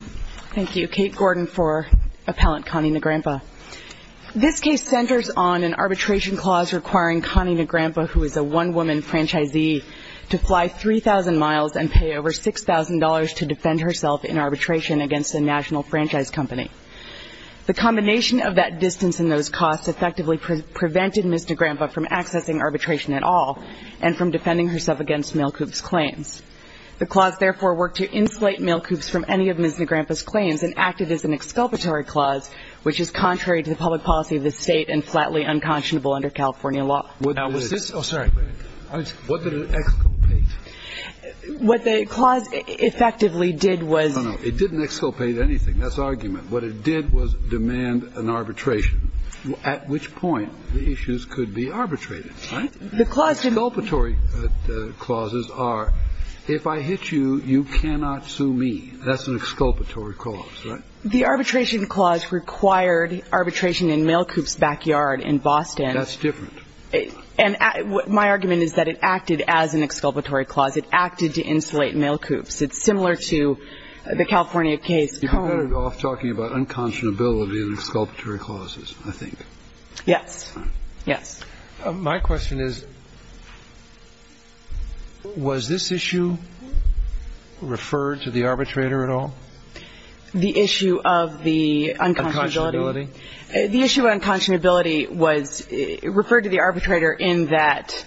Thank you. Kate Gordon for Appellant Connie Nagrampa. This case centers on an arbitration clause requiring Connie Nagrampa, who is a one-woman franchisee, to fly 3,000 miles and pay over $6,000 to defend herself in arbitration against a national franchise company. The combination of that distance and those costs effectively prevented Ms. Nagrampa from accessing arbitration at all and from defending herself against Mailcoups' claims. The clause therefore worked to insulate Mailcoups from any of Ms. Nagrampa's claims and acted as an exculpatory clause, which is contrary to the public policy of the State and flatly unconscionable under California law. What did it exculpate? What the clause effectively did was No, no. It didn't exculpate anything. That's argument. What it did was demand an arbitration, at which point the issues could be arbitrated, right? The clause didn't exculpatory clauses are, if I hit you, you cannot sue me. That's an exculpatory clause, right? The arbitration clause required arbitration in Mailcoups' backyard in Boston. That's different. And my argument is that it acted as an exculpatory clause. It acted to insulate Mailcoups. It's similar to the California case. You're better off talking about unconscionability than exculpatory clauses, I think. Yes. Yes. My question is, was this issue referred to the arbitrator at all? The issue of the unconscionability? Unconscionability. The issue of unconscionability was referred to the arbitrator in that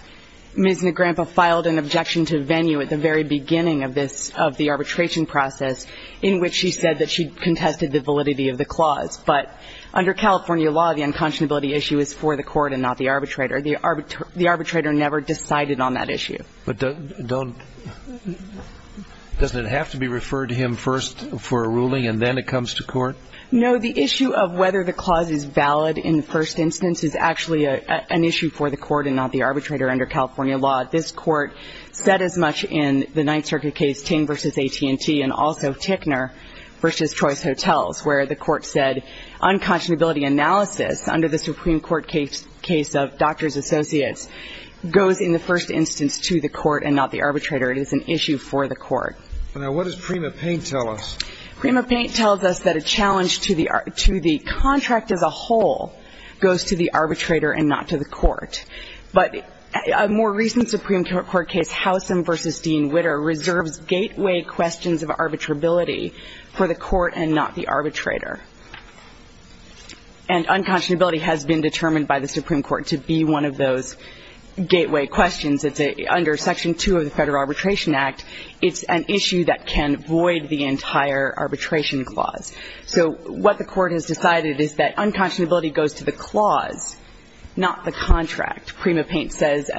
Ms. Nagrampa filed an objection to venue at the very beginning of this, of the arbitration process, in which she said that she contested the validity of the clause. But under California law, the unconscionability issue is for the court and not the arbitrator. The arbitrator never decided on that issue. But doesn't it have to be referred to him first for a ruling and then it comes to court? No. The issue of whether the clause is valid in the first instance is actually an issue for the court and not the arbitrator. Under California law, this court said as much in the Ninth Circuit case Ting v. AT&T and also Tickner v. Choice Hotels, where the court said unconscionability analysis under the Supreme Court case of Doctors Associates goes in the first instance to the court and not the arbitrator. It is an issue for the court. Now, what does Prima Paint tell us? Prima Paint tells us that a challenge to the contract as a whole goes to the arbitrator and not to the court. But a more recent Supreme Court case, Howsam v. Dean Witter, reserves gateway questions of arbitrability for the arbitrator. And unconscionability has been determined by the Supreme Court to be one of those gateway questions. It's under Section 2 of the Federal Arbitration Act. It's an issue that can void the entire arbitration clause. So what the court has decided is that unconscionability goes to the clause, not the contract. Prima Paint says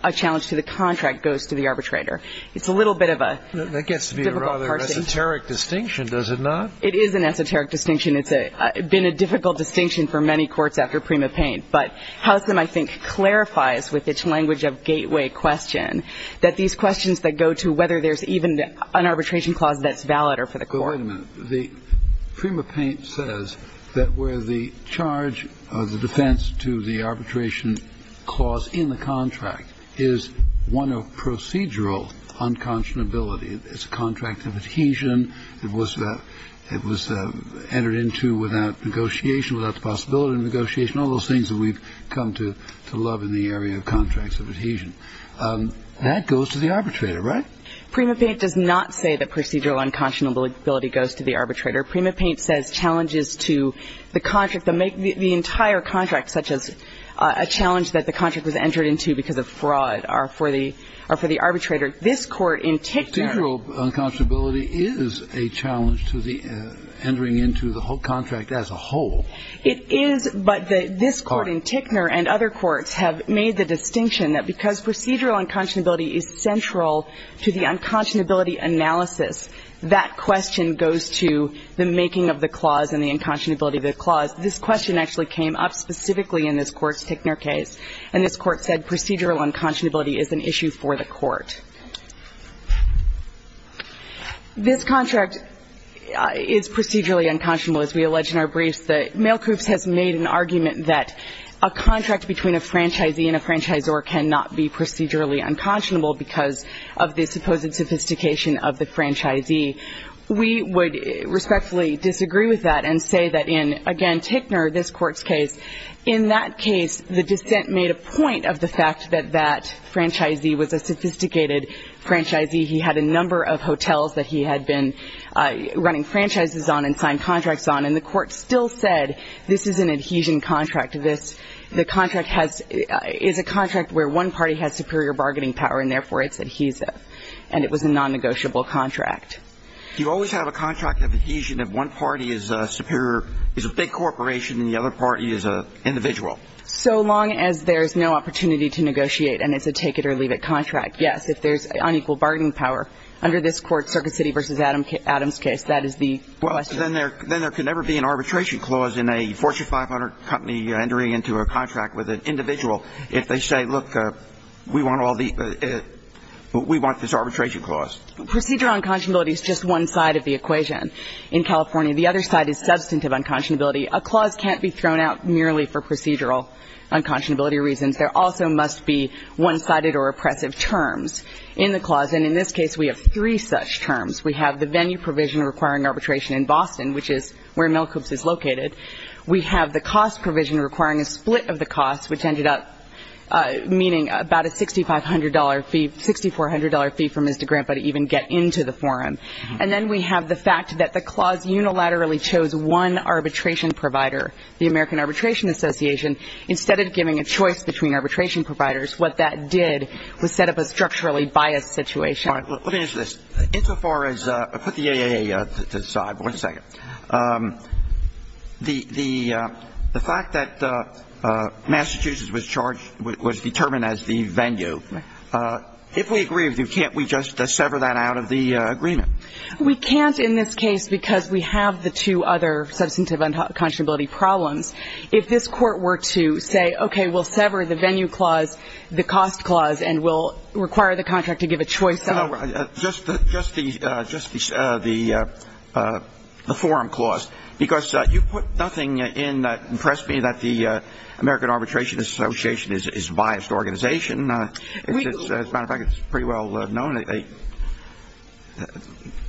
a challenge to the contract goes to the arbitrator. It's a little bit of a difficult parsing. That gets to be a rather esoteric distinction, does it not? It is an esoteric distinction. It's been a difficult distinction for many courts after Prima Paint. But Howsam, I think, clarifies with its language of gateway question that these questions that go to whether there's even an arbitration clause that's valid are for the court. But wait a minute. Prima Paint says that where the charge of the defense to the arbitration clause in the contract is one of procedural unconscionability, it's a contract of adhesion, it was entered into without negotiation, without the possibility of negotiation, all those things that we've come to love in the area of contracts of adhesion. That goes to the arbitrator, right? Prima Paint does not say that procedural unconscionability goes to the arbitrator. Prima Paint says challenges to the entire contract, such as a challenge that the contract was entered into because of fraud, are for the arbitrator. This Court in Tickner... Procedural unconscionability is a challenge to the entering into the whole contract as a whole. It is, but this Court in Tickner and other courts have made the distinction that because procedural unconscionability is central to the unconscionability analysis, that question goes to the making of the clause and the unconscionability of the clause. This question actually came up specifically in this court's Tickner case. And this court said procedural unconscionability is an issue for the court. This contract is procedurally unconscionable, as we allege in our briefs. The Mail Coups has made an argument that a contract between a franchisee and a franchisor cannot be procedurally unconscionable because of the supposed sophistication of the franchisee. We would respectfully disagree with that and say that in, again, Tickner, this Court's case, in that case, the dissent made a point that he had a number of hotels that he had been running franchises on and signed contracts on, and the Court still said, this is an adhesion contract. The contract is a contract where one party has superior bargaining power and therefore it's adhesive. And it was a non-negotiable contract. Do you always have a contract of adhesion if one party is a big corporation and the other party is an individual? So long as there's no opportunity to negotiate and it's a take-it-or-leave-it contract, yes, if there's unequal bargaining power. Under this Court, Circuit City v. Adams case, that is the question. Well, then there could never be an arbitration clause in a Fortune 500 company entering into a contract with an individual if they say, look, we want all the we want this arbitration clause. Procedural unconscionability is just one side of the equation in California. The other side is substantive unconscionability. A clause can't be thrown out merely for procedural unconscionability reasons. There also must be one-sided or oppressive terms in the clause. And in this case, we have three such terms. We have the venue provision requiring arbitration in Boston, which is where Milcoops is located. We have the cost provision requiring a split of the cost, which ended up meaning about a $6,500 fee, $6,400 fee for Mr. Grampa to even get into the forum. And then we have the fact that the clause unilaterally chose one arbitration provider, the American Arbitration Association, instead of giving a choice between arbitration providers. What that did was set up a structurally biased situation. All right. Let me ask this. Insofar as the AAA side, one second. The fact that Massachusetts was charged, was determined as the venue, if we agree with you, can't we just sever that out of the agreement? We can't in this case because we have the two other substantive unconscionability problems. If this Court were to say, okay, we'll sever the venue clause, the cost clause, and we'll require the contract to give a choice. Just the forum clause. Because you put nothing in that impressed me that the American Arbitration Association is a biased organization. As a matter of fact, it's pretty well known that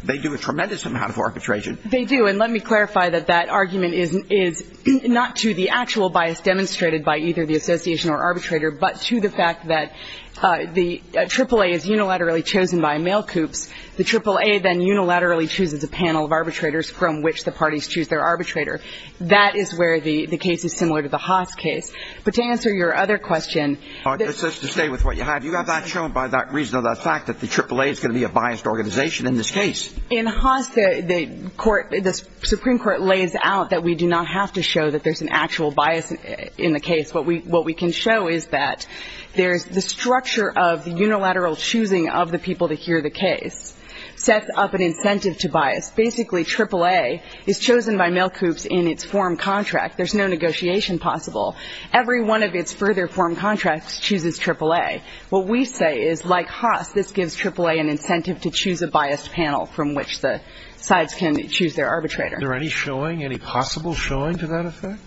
they do a tremendous amount of arbitration. They do. And let me clarify that that argument is not to the actual bias demonstrated by either the association or arbitrator, but to the fact that the AAA is unilaterally chosen by mail coups. The AAA then unilaterally chooses a panel of arbitrators from which the parties choose their arbitrator. That is where the case is similar to the Haas case. But to answer your other question. Just to stay with what you have, you have that shown by that reason of the fact that the AAA is going to be a biased organization in this case. In Haas, the Supreme Court lays out that we do not have to show that there's an actual bias in the case. What we can show is that the structure of the unilateral choosing of the people to hear the case sets up an incentive to bias. Basically, AAA is chosen by mail coups in its forum contract. There's no negotiation possible. Every one of its further forum contracts chooses AAA. What we say is, like Haas, this gives AAA an incentive to choose a biased panel from which the sides can choose their arbitrator. Are there any showing, any possible showing to that effect?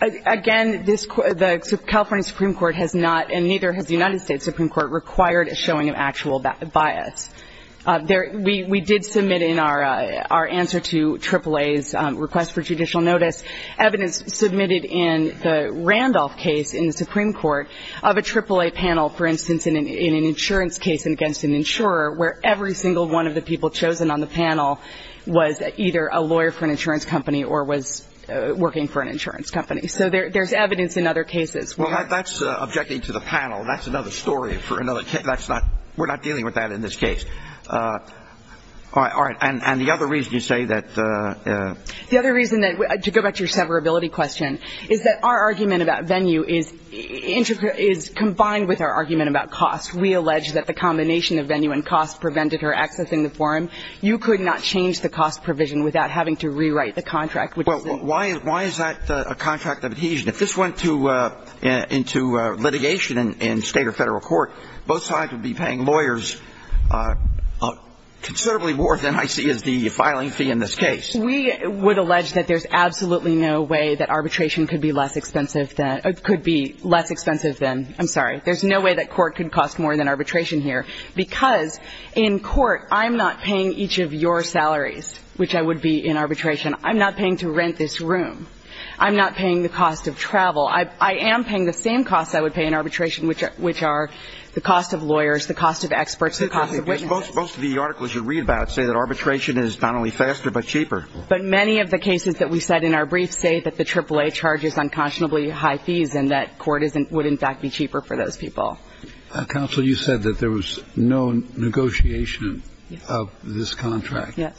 Again, the California Supreme Court has not, and neither has the United States Supreme Court, required a showing of actual bias. We did submit in our answer to AAA's request for judicial notice evidence submitted in the Randolph case in the Supreme Court of a AAA panel, for instance, in an insurance case against an insurer, where every single one of the people chosen on the panel was either a lawyer for an insurance company or was working for an insurance company. So there's evidence in other cases. Well, that's objecting to the panel. That's another story for another case. We're not dealing with that in this case. All right. And the other reason you say that... The other reason, to go back to your severability question, is that our argument about venue is combined with our argument about cost. We allege that the combination of venue and cost prevented her accessing the forum. You could not change the cost provision without having to rewrite the contract, which is... Well, why is that a contract of adhesion? If this went into litigation in State or Federal court, both sides would be paying lawyers considerably more than I see as the filing fee in this case. We would allege that there's absolutely no way that arbitration could be less expensive than – could be less expensive than – I'm sorry. There's no way that court could cost more than arbitration here because, in court, I'm not paying each of your salaries, which I would be in arbitration. I'm not paying to rent this room. I'm not paying the cost of travel. I am paying the same costs I would pay in arbitration, which are the cost of lawyers, the cost of experts, the cost of witnesses. Most of the articles you read about say that arbitration is not only faster but cheaper. But many of the cases that we cite in our briefs say that the AAA charges unconscionably high fees and that court would, in fact, be cheaper for those people. Counsel, you said that there was no negotiation of this contract. Yes.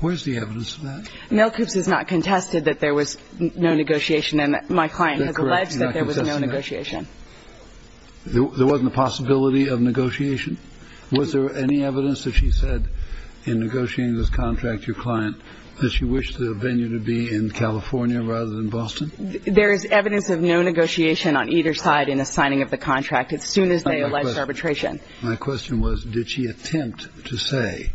Where's the evidence of that? Mel Coops has not contested that there was no negotiation and my client has alleged that there was no negotiation. There wasn't a possibility of negotiation? Was there any evidence that she said in negotiating this contract, your client, that she wished the venue to be in California rather than Boston? There is evidence of no negotiation on either side in the signing of the contract as soon as they allege arbitration. My question was, did she attempt to say,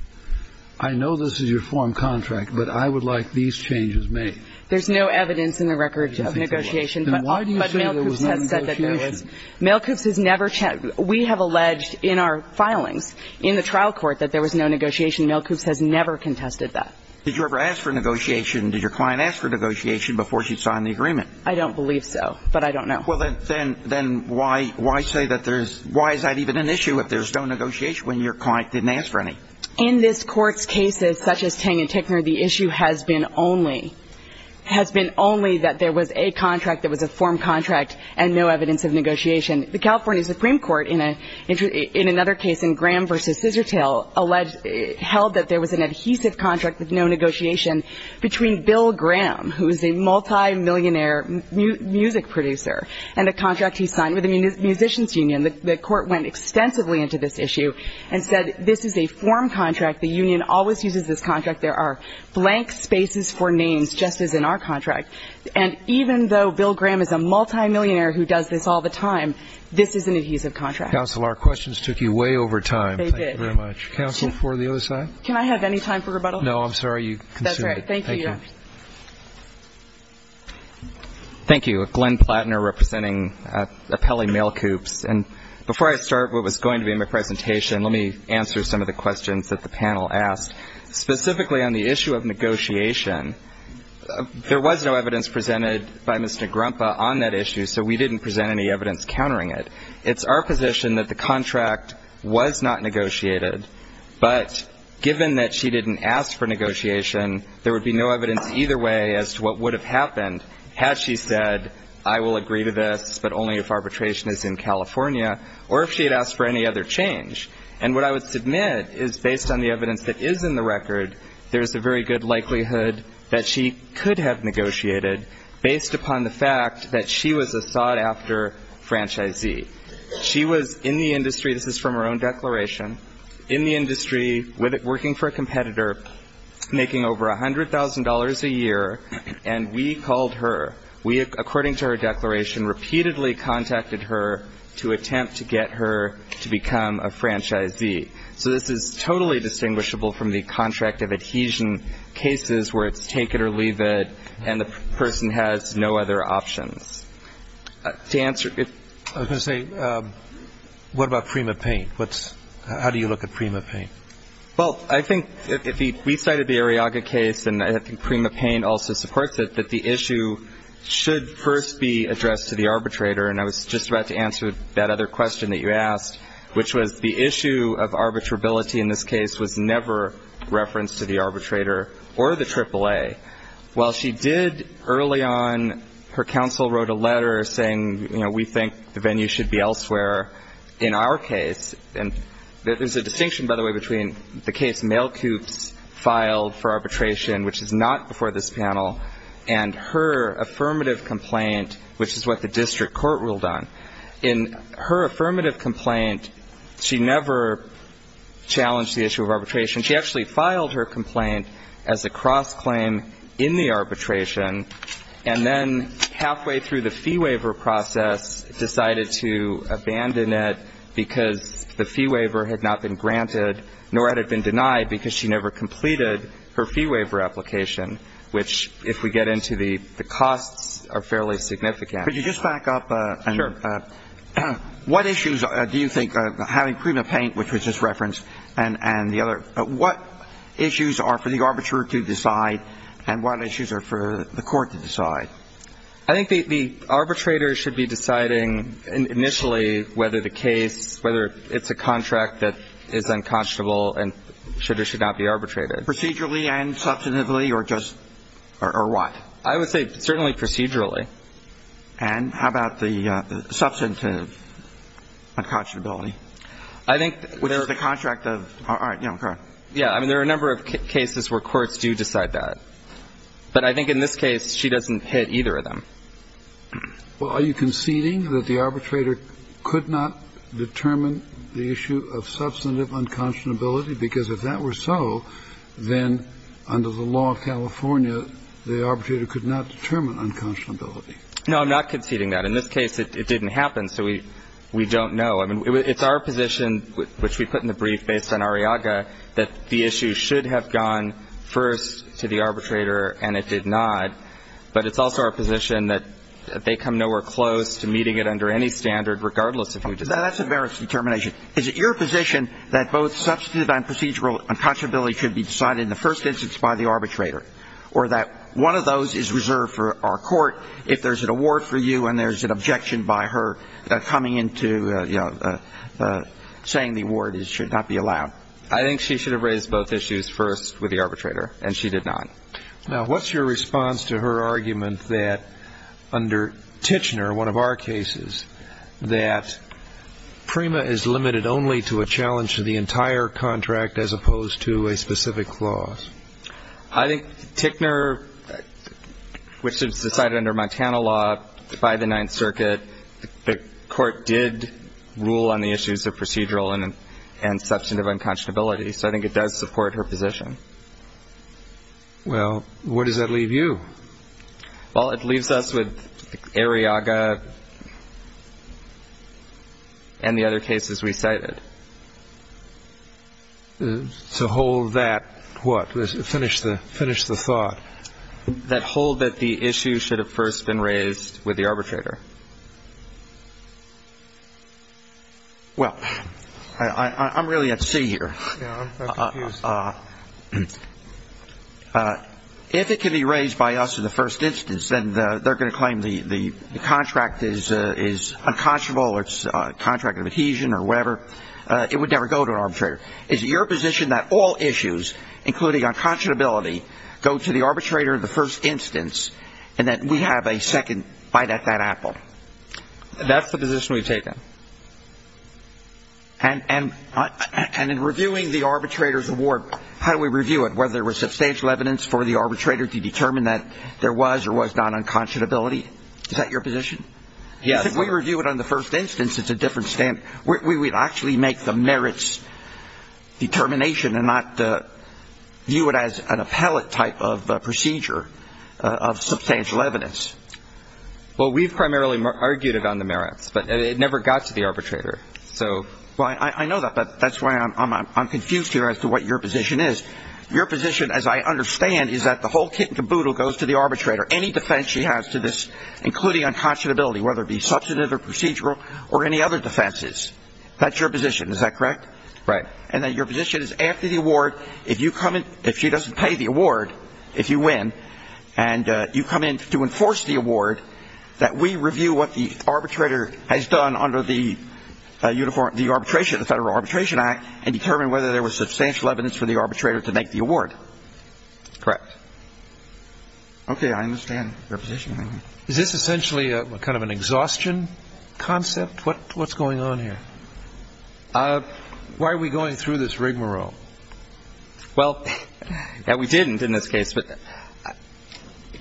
I know this is your form contract, but I would like these changes made? There's no evidence in the record of negotiation. Then why do you say there was no negotiation? Mel Coops has never we have alleged in our filings in the trial court that there was no negotiation. Mel Coops has never contested that. Did you ever ask for negotiation? Did your client ask for negotiation before she signed the agreement? I don't believe so, but I don't know. Well, then why say that there's, why is that even an issue if there's no negotiation when your client didn't ask for any? In this court's cases, such as Tang and Tickner, the issue has been only that there was a contract that was a form contract and no evidence of negotiation. The California Supreme Court, in another case, in Graham v. Scissortail, held that there was an adhesive contract with no negotiation between Bill Graham, who is a multimillionaire music producer, and a contract he signed with a musician's union. The court went extensively into this issue and said this is a form contract. The union always uses this contract. There are blank spaces for names, just as in our contract. And even though Bill Graham is a multimillionaire who does this all the time, this is an adhesive contract. Counsel, our questions took you way over time. Thank you very much. Counsel for the other side? Can I have any time for rebuttal? No, I'm sorry. That's all right. Thank you, Your Honor. Thank you. Thank you. Glenn Platner representing Appelli Mail Coops. And before I start what was going to be my presentation, let me answer some of the questions that the panel asked. Specifically on the issue of negotiation, there was no evidence presented by Mr. Grumpa on that issue, so we didn't present any evidence countering it. It's our position that the contract was not negotiated, but given that she didn't ask for negotiation, there would be no evidence either way as to what would have happened had she said, I will agree to this, but only if arbitration is in California, or if she had asked for any other change. And what I would submit is based on the evidence that is in the record, there's a very good likelihood that she could have negotiated based upon the fact that she was a sought-after franchisee. She was in the industry, this is from her own declaration, in the industry working for a competitor making over $100,000 a year, and we called her. We, according to her declaration, repeatedly contacted her to attempt to get her to become a franchisee. So this is totally distinguishable from the contract of adhesion cases where it's take it or leave it and the person has no other options. I was going to say, what about Prima Payne? How do you look at Prima Payne? Well, I think if we cited the Arriaga case, and I think Prima Payne also supports it, that the issue should first be addressed to the arbitrator, and I was just about to answer that other question that you asked, which was the issue of arbitrability in this case was never referenced to the arbitrator or the AAA. While she did early on, her counsel wrote a letter saying, you know, we think the venue should be elsewhere in our case, and there's a distinction, by the way, between the case Mail Coops filed for arbitration, which is not before this panel, and her affirmative complaint, which is what the district court ruled on. In her affirmative complaint, she never challenged the issue of arbitration. She actually filed her complaint as a cross-claim in the arbitration and then halfway through the fee waiver process decided to abandon it because the fee waiver had not been granted, nor had it been denied because she never completed her fee waiver application, which, if we get into the costs, are fairly significant. Could you just back up? Sure. What issues do you think having Prima Payne, which was just referenced, and the other – what issues are for the arbitrator to decide and what issues are for the court to decide? I think the arbitrator should be deciding initially whether the case, whether it's a contract that is unconscionable and should or should not be arbitrated. Procedurally and substantively or just – or what? I would say certainly procedurally. And how about the substantive unconscionability? I think there are – Which is the contract of – all right. Yeah. I mean, there are a number of cases where courts do decide that. But I think in this case, she doesn't hit either of them. Well, are you conceding that the arbitrator could not determine the issue of substantive unconscionability? Because if that were so, then under the law of California, the arbitrator could not determine unconscionability. No, I'm not conceding that. In this case, it didn't happen, so we don't know. I mean, it's our position, which we put in the brief based on Arriaga, that the issue should have gone first to the arbitrator, and it did not. But it's also our position that they come nowhere close to meeting it under any standard, regardless of who does it. Now, that's a various determination. Is it your position that both substantive and procedural unconscionability should be decided in the first instance by the arbitrator or that one of those is reserved for our court if there's an award for you and there's an objection by her coming into saying the award should not be allowed? I think she should have raised both issues first with the arbitrator, and she did not. Now, what's your response to her argument that under Tichenor, one of our cases, that PREMA is limited only to a challenge to the entire contract as opposed to a specific clause? I think Tichenor, which was decided under Montana law by the Ninth Circuit, the court did rule on the issues of procedural and substantive unconscionability. So I think it does support her position. Well, where does that leave you? Well, it leaves us with Arriaga and the other cases we cited. So hold that what? Finish the thought. That hold that the issue should have first been raised with the arbitrator. Well, I'm really at sea here. If it can be raised by us in the first instance, then they're going to claim the contract is unconscionable or it's a contract of adhesion or whatever. It would never go to an arbitrator. Is it your position that all issues, including unconscionability, go to the arbitrator in the first instance and that we have a second bite at that apple? That's the position we've taken. And in reviewing the arbitrator's award, how do we review it? Whether there was substantial evidence for the arbitrator to determine that there was or was not unconscionability? Is that your position? Yes. If we review it on the first instance, it's a different stand. We would actually make the merits determination and not view it as an appellate type of procedure of substantial evidence. Well, we've primarily argued it on the merits, but it never got to the arbitrator. Well, I know that, but that's why I'm confused here as to what your position is. Your position, as I understand, is that the whole kit and caboodle goes to the arbitrator. Any defense she has to this, including unconscionability, whether it be substantive or procedural or any other defenses, that's your position. Is that correct? Right. And then your position is after the award, if she doesn't pay the award, if you win, and you come in to enforce the award, that we review what the arbitrator has done under the Federal Arbitration Act and determine whether there was substantial evidence for the arbitrator to make the award. Correct. Okay. I understand your position. Is this essentially kind of an exhaustion concept? What's going on here? Why are we going through this rigmarole? Well, we didn't in this case, but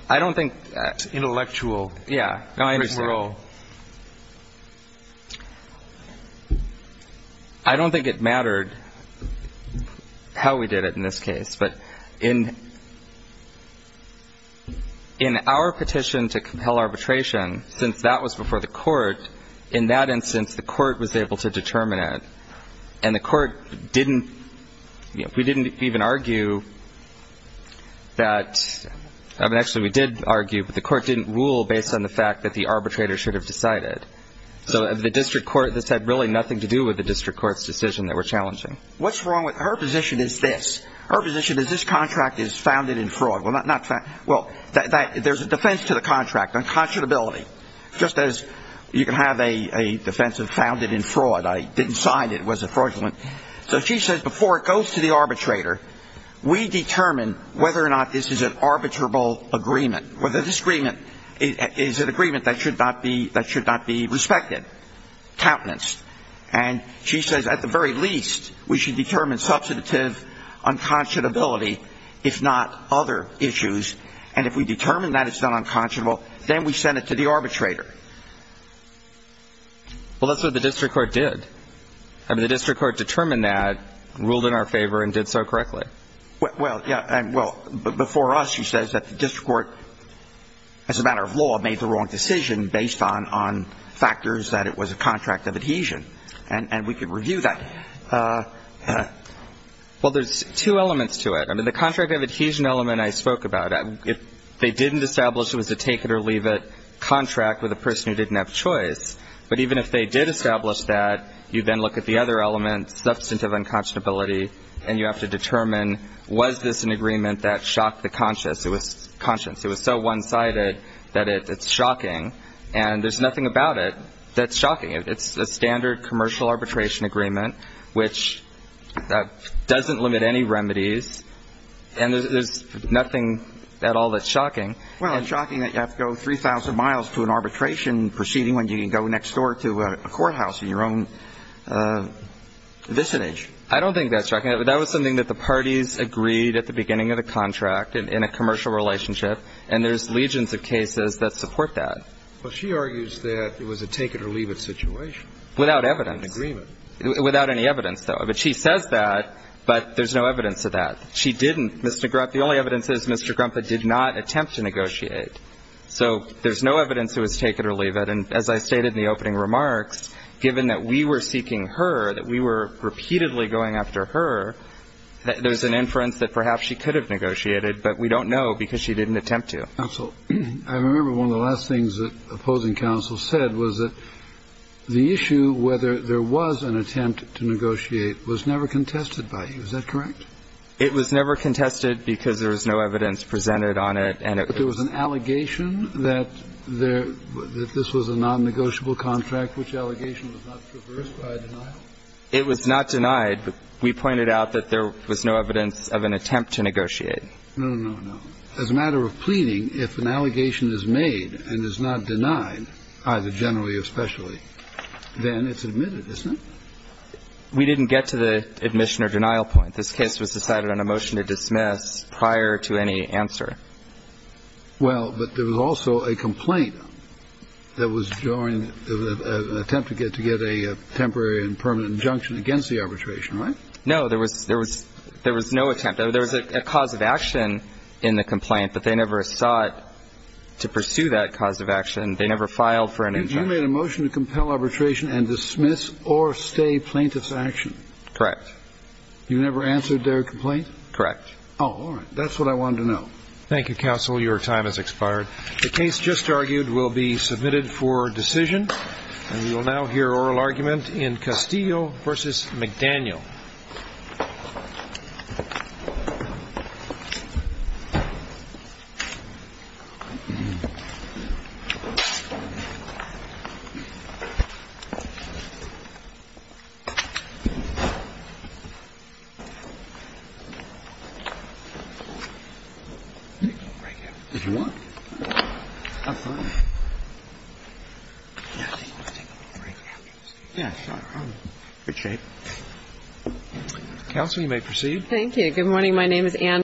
I don't think that's intellectual. Yeah. I understand. Rigmarole. I don't think it mattered how we did it in this case, but in our petition to compel arbitration, since that was before the court, in that instance, the court was able to determine it. And the court didn't, you know, we didn't even argue that, I mean, actually we did argue, but the court didn't rule based on the fact that the arbitrator should have decided. So the district court, this had really nothing to do with the district court's decision that were challenging. What's wrong with her position is this. Her position is this contract is founded in fraud. Well, there's a defense to the contract, unconscionability, just as you can have a defense of founded in fraud. I didn't sign it. It was a fraudulent. So she says before it goes to the arbitrator, we determine whether or not this is an arbitrable agreement, whether this agreement is an agreement that should not be respected, countenanced. And she says at the very least, we should determine substantive unconscionability, if not other issues. And if we determine that it's not unconscionable, then we send it to the arbitrator. Well, that's what the district court did. I mean, the district court determined that, ruled in our favor, and did so correctly. Well, yeah, and well, but before us, she says that the district court, as a matter of law, made the wrong decision based on factors that it was a contract of adhesion. And we can review that. Well, there's two elements to it. I mean, the contract of adhesion element I spoke about, if they didn't establish it was a take-it-or-leave-it contract with a person who didn't have choice, but even if they did establish that, you then look at the other element, substantive unconscionability, and you have to determine, was this an agreement that shocked the conscience? It was so one-sided that it's shocking. And there's nothing about it that's shocking. It's a standard commercial arbitration agreement, which doesn't limit any remedies, and there's nothing at all that's shocking. Well, it's shocking that you have to go 3,000 miles to an arbitration proceeding when you can go next door to a courthouse in your own vicinage. I don't think that's shocking. That was something that the parties agreed at the beginning of the contract, in a commercial relationship, and there's legions of cases that support that. Well, she argues that it was a take-it-or-leave-it situation. Without evidence. An agreement. Without any evidence, though. But she says that, but there's no evidence of that. She didn't. The only evidence is Mr. Grumpet did not attempt to negotiate. So there's no evidence it was take-it-or-leave-it. And as I stated in the opening remarks, given that we were seeking her, that we were repeatedly going after her, there's an inference that perhaps she could have negotiated, but we don't know because she didn't attempt to. Counsel, I remember one of the last things that opposing counsel said was that the issue whether there was an attempt to negotiate was never contested by you. Is that correct? It was never contested because there was no evidence presented on it. But there was an allegation that this was a nonnegotiable contract, which allegation was not traversed by a denial? It was not denied. We pointed out that there was no evidence of an attempt to negotiate. No, no, no. As a matter of pleading, if an allegation is made and is not denied, either generally or especially, then it's admitted, isn't it? We didn't get to the admission or denial point. This case was decided on a motion to dismiss prior to any answer. Well, but there was also a complaint that was joined, an attempt to get a temporary and permanent injunction against the arbitration, right? No, there was no attempt. There was a cause of action in the complaint, but they never sought to pursue that cause of action. They never filed for an injunction. You made a motion to compel arbitration and dismiss or stay plaintiff's action? Correct. You never answered their complaint? Correct. Oh, all right. That's what I wanted to know. Thank you, counsel. Your time has expired. The case just argued will be submitted for decision. And we will now hear oral argument in Castillo v. McDaniel. Counsel, you may proceed. Thank you. Good morning. My name is Ann.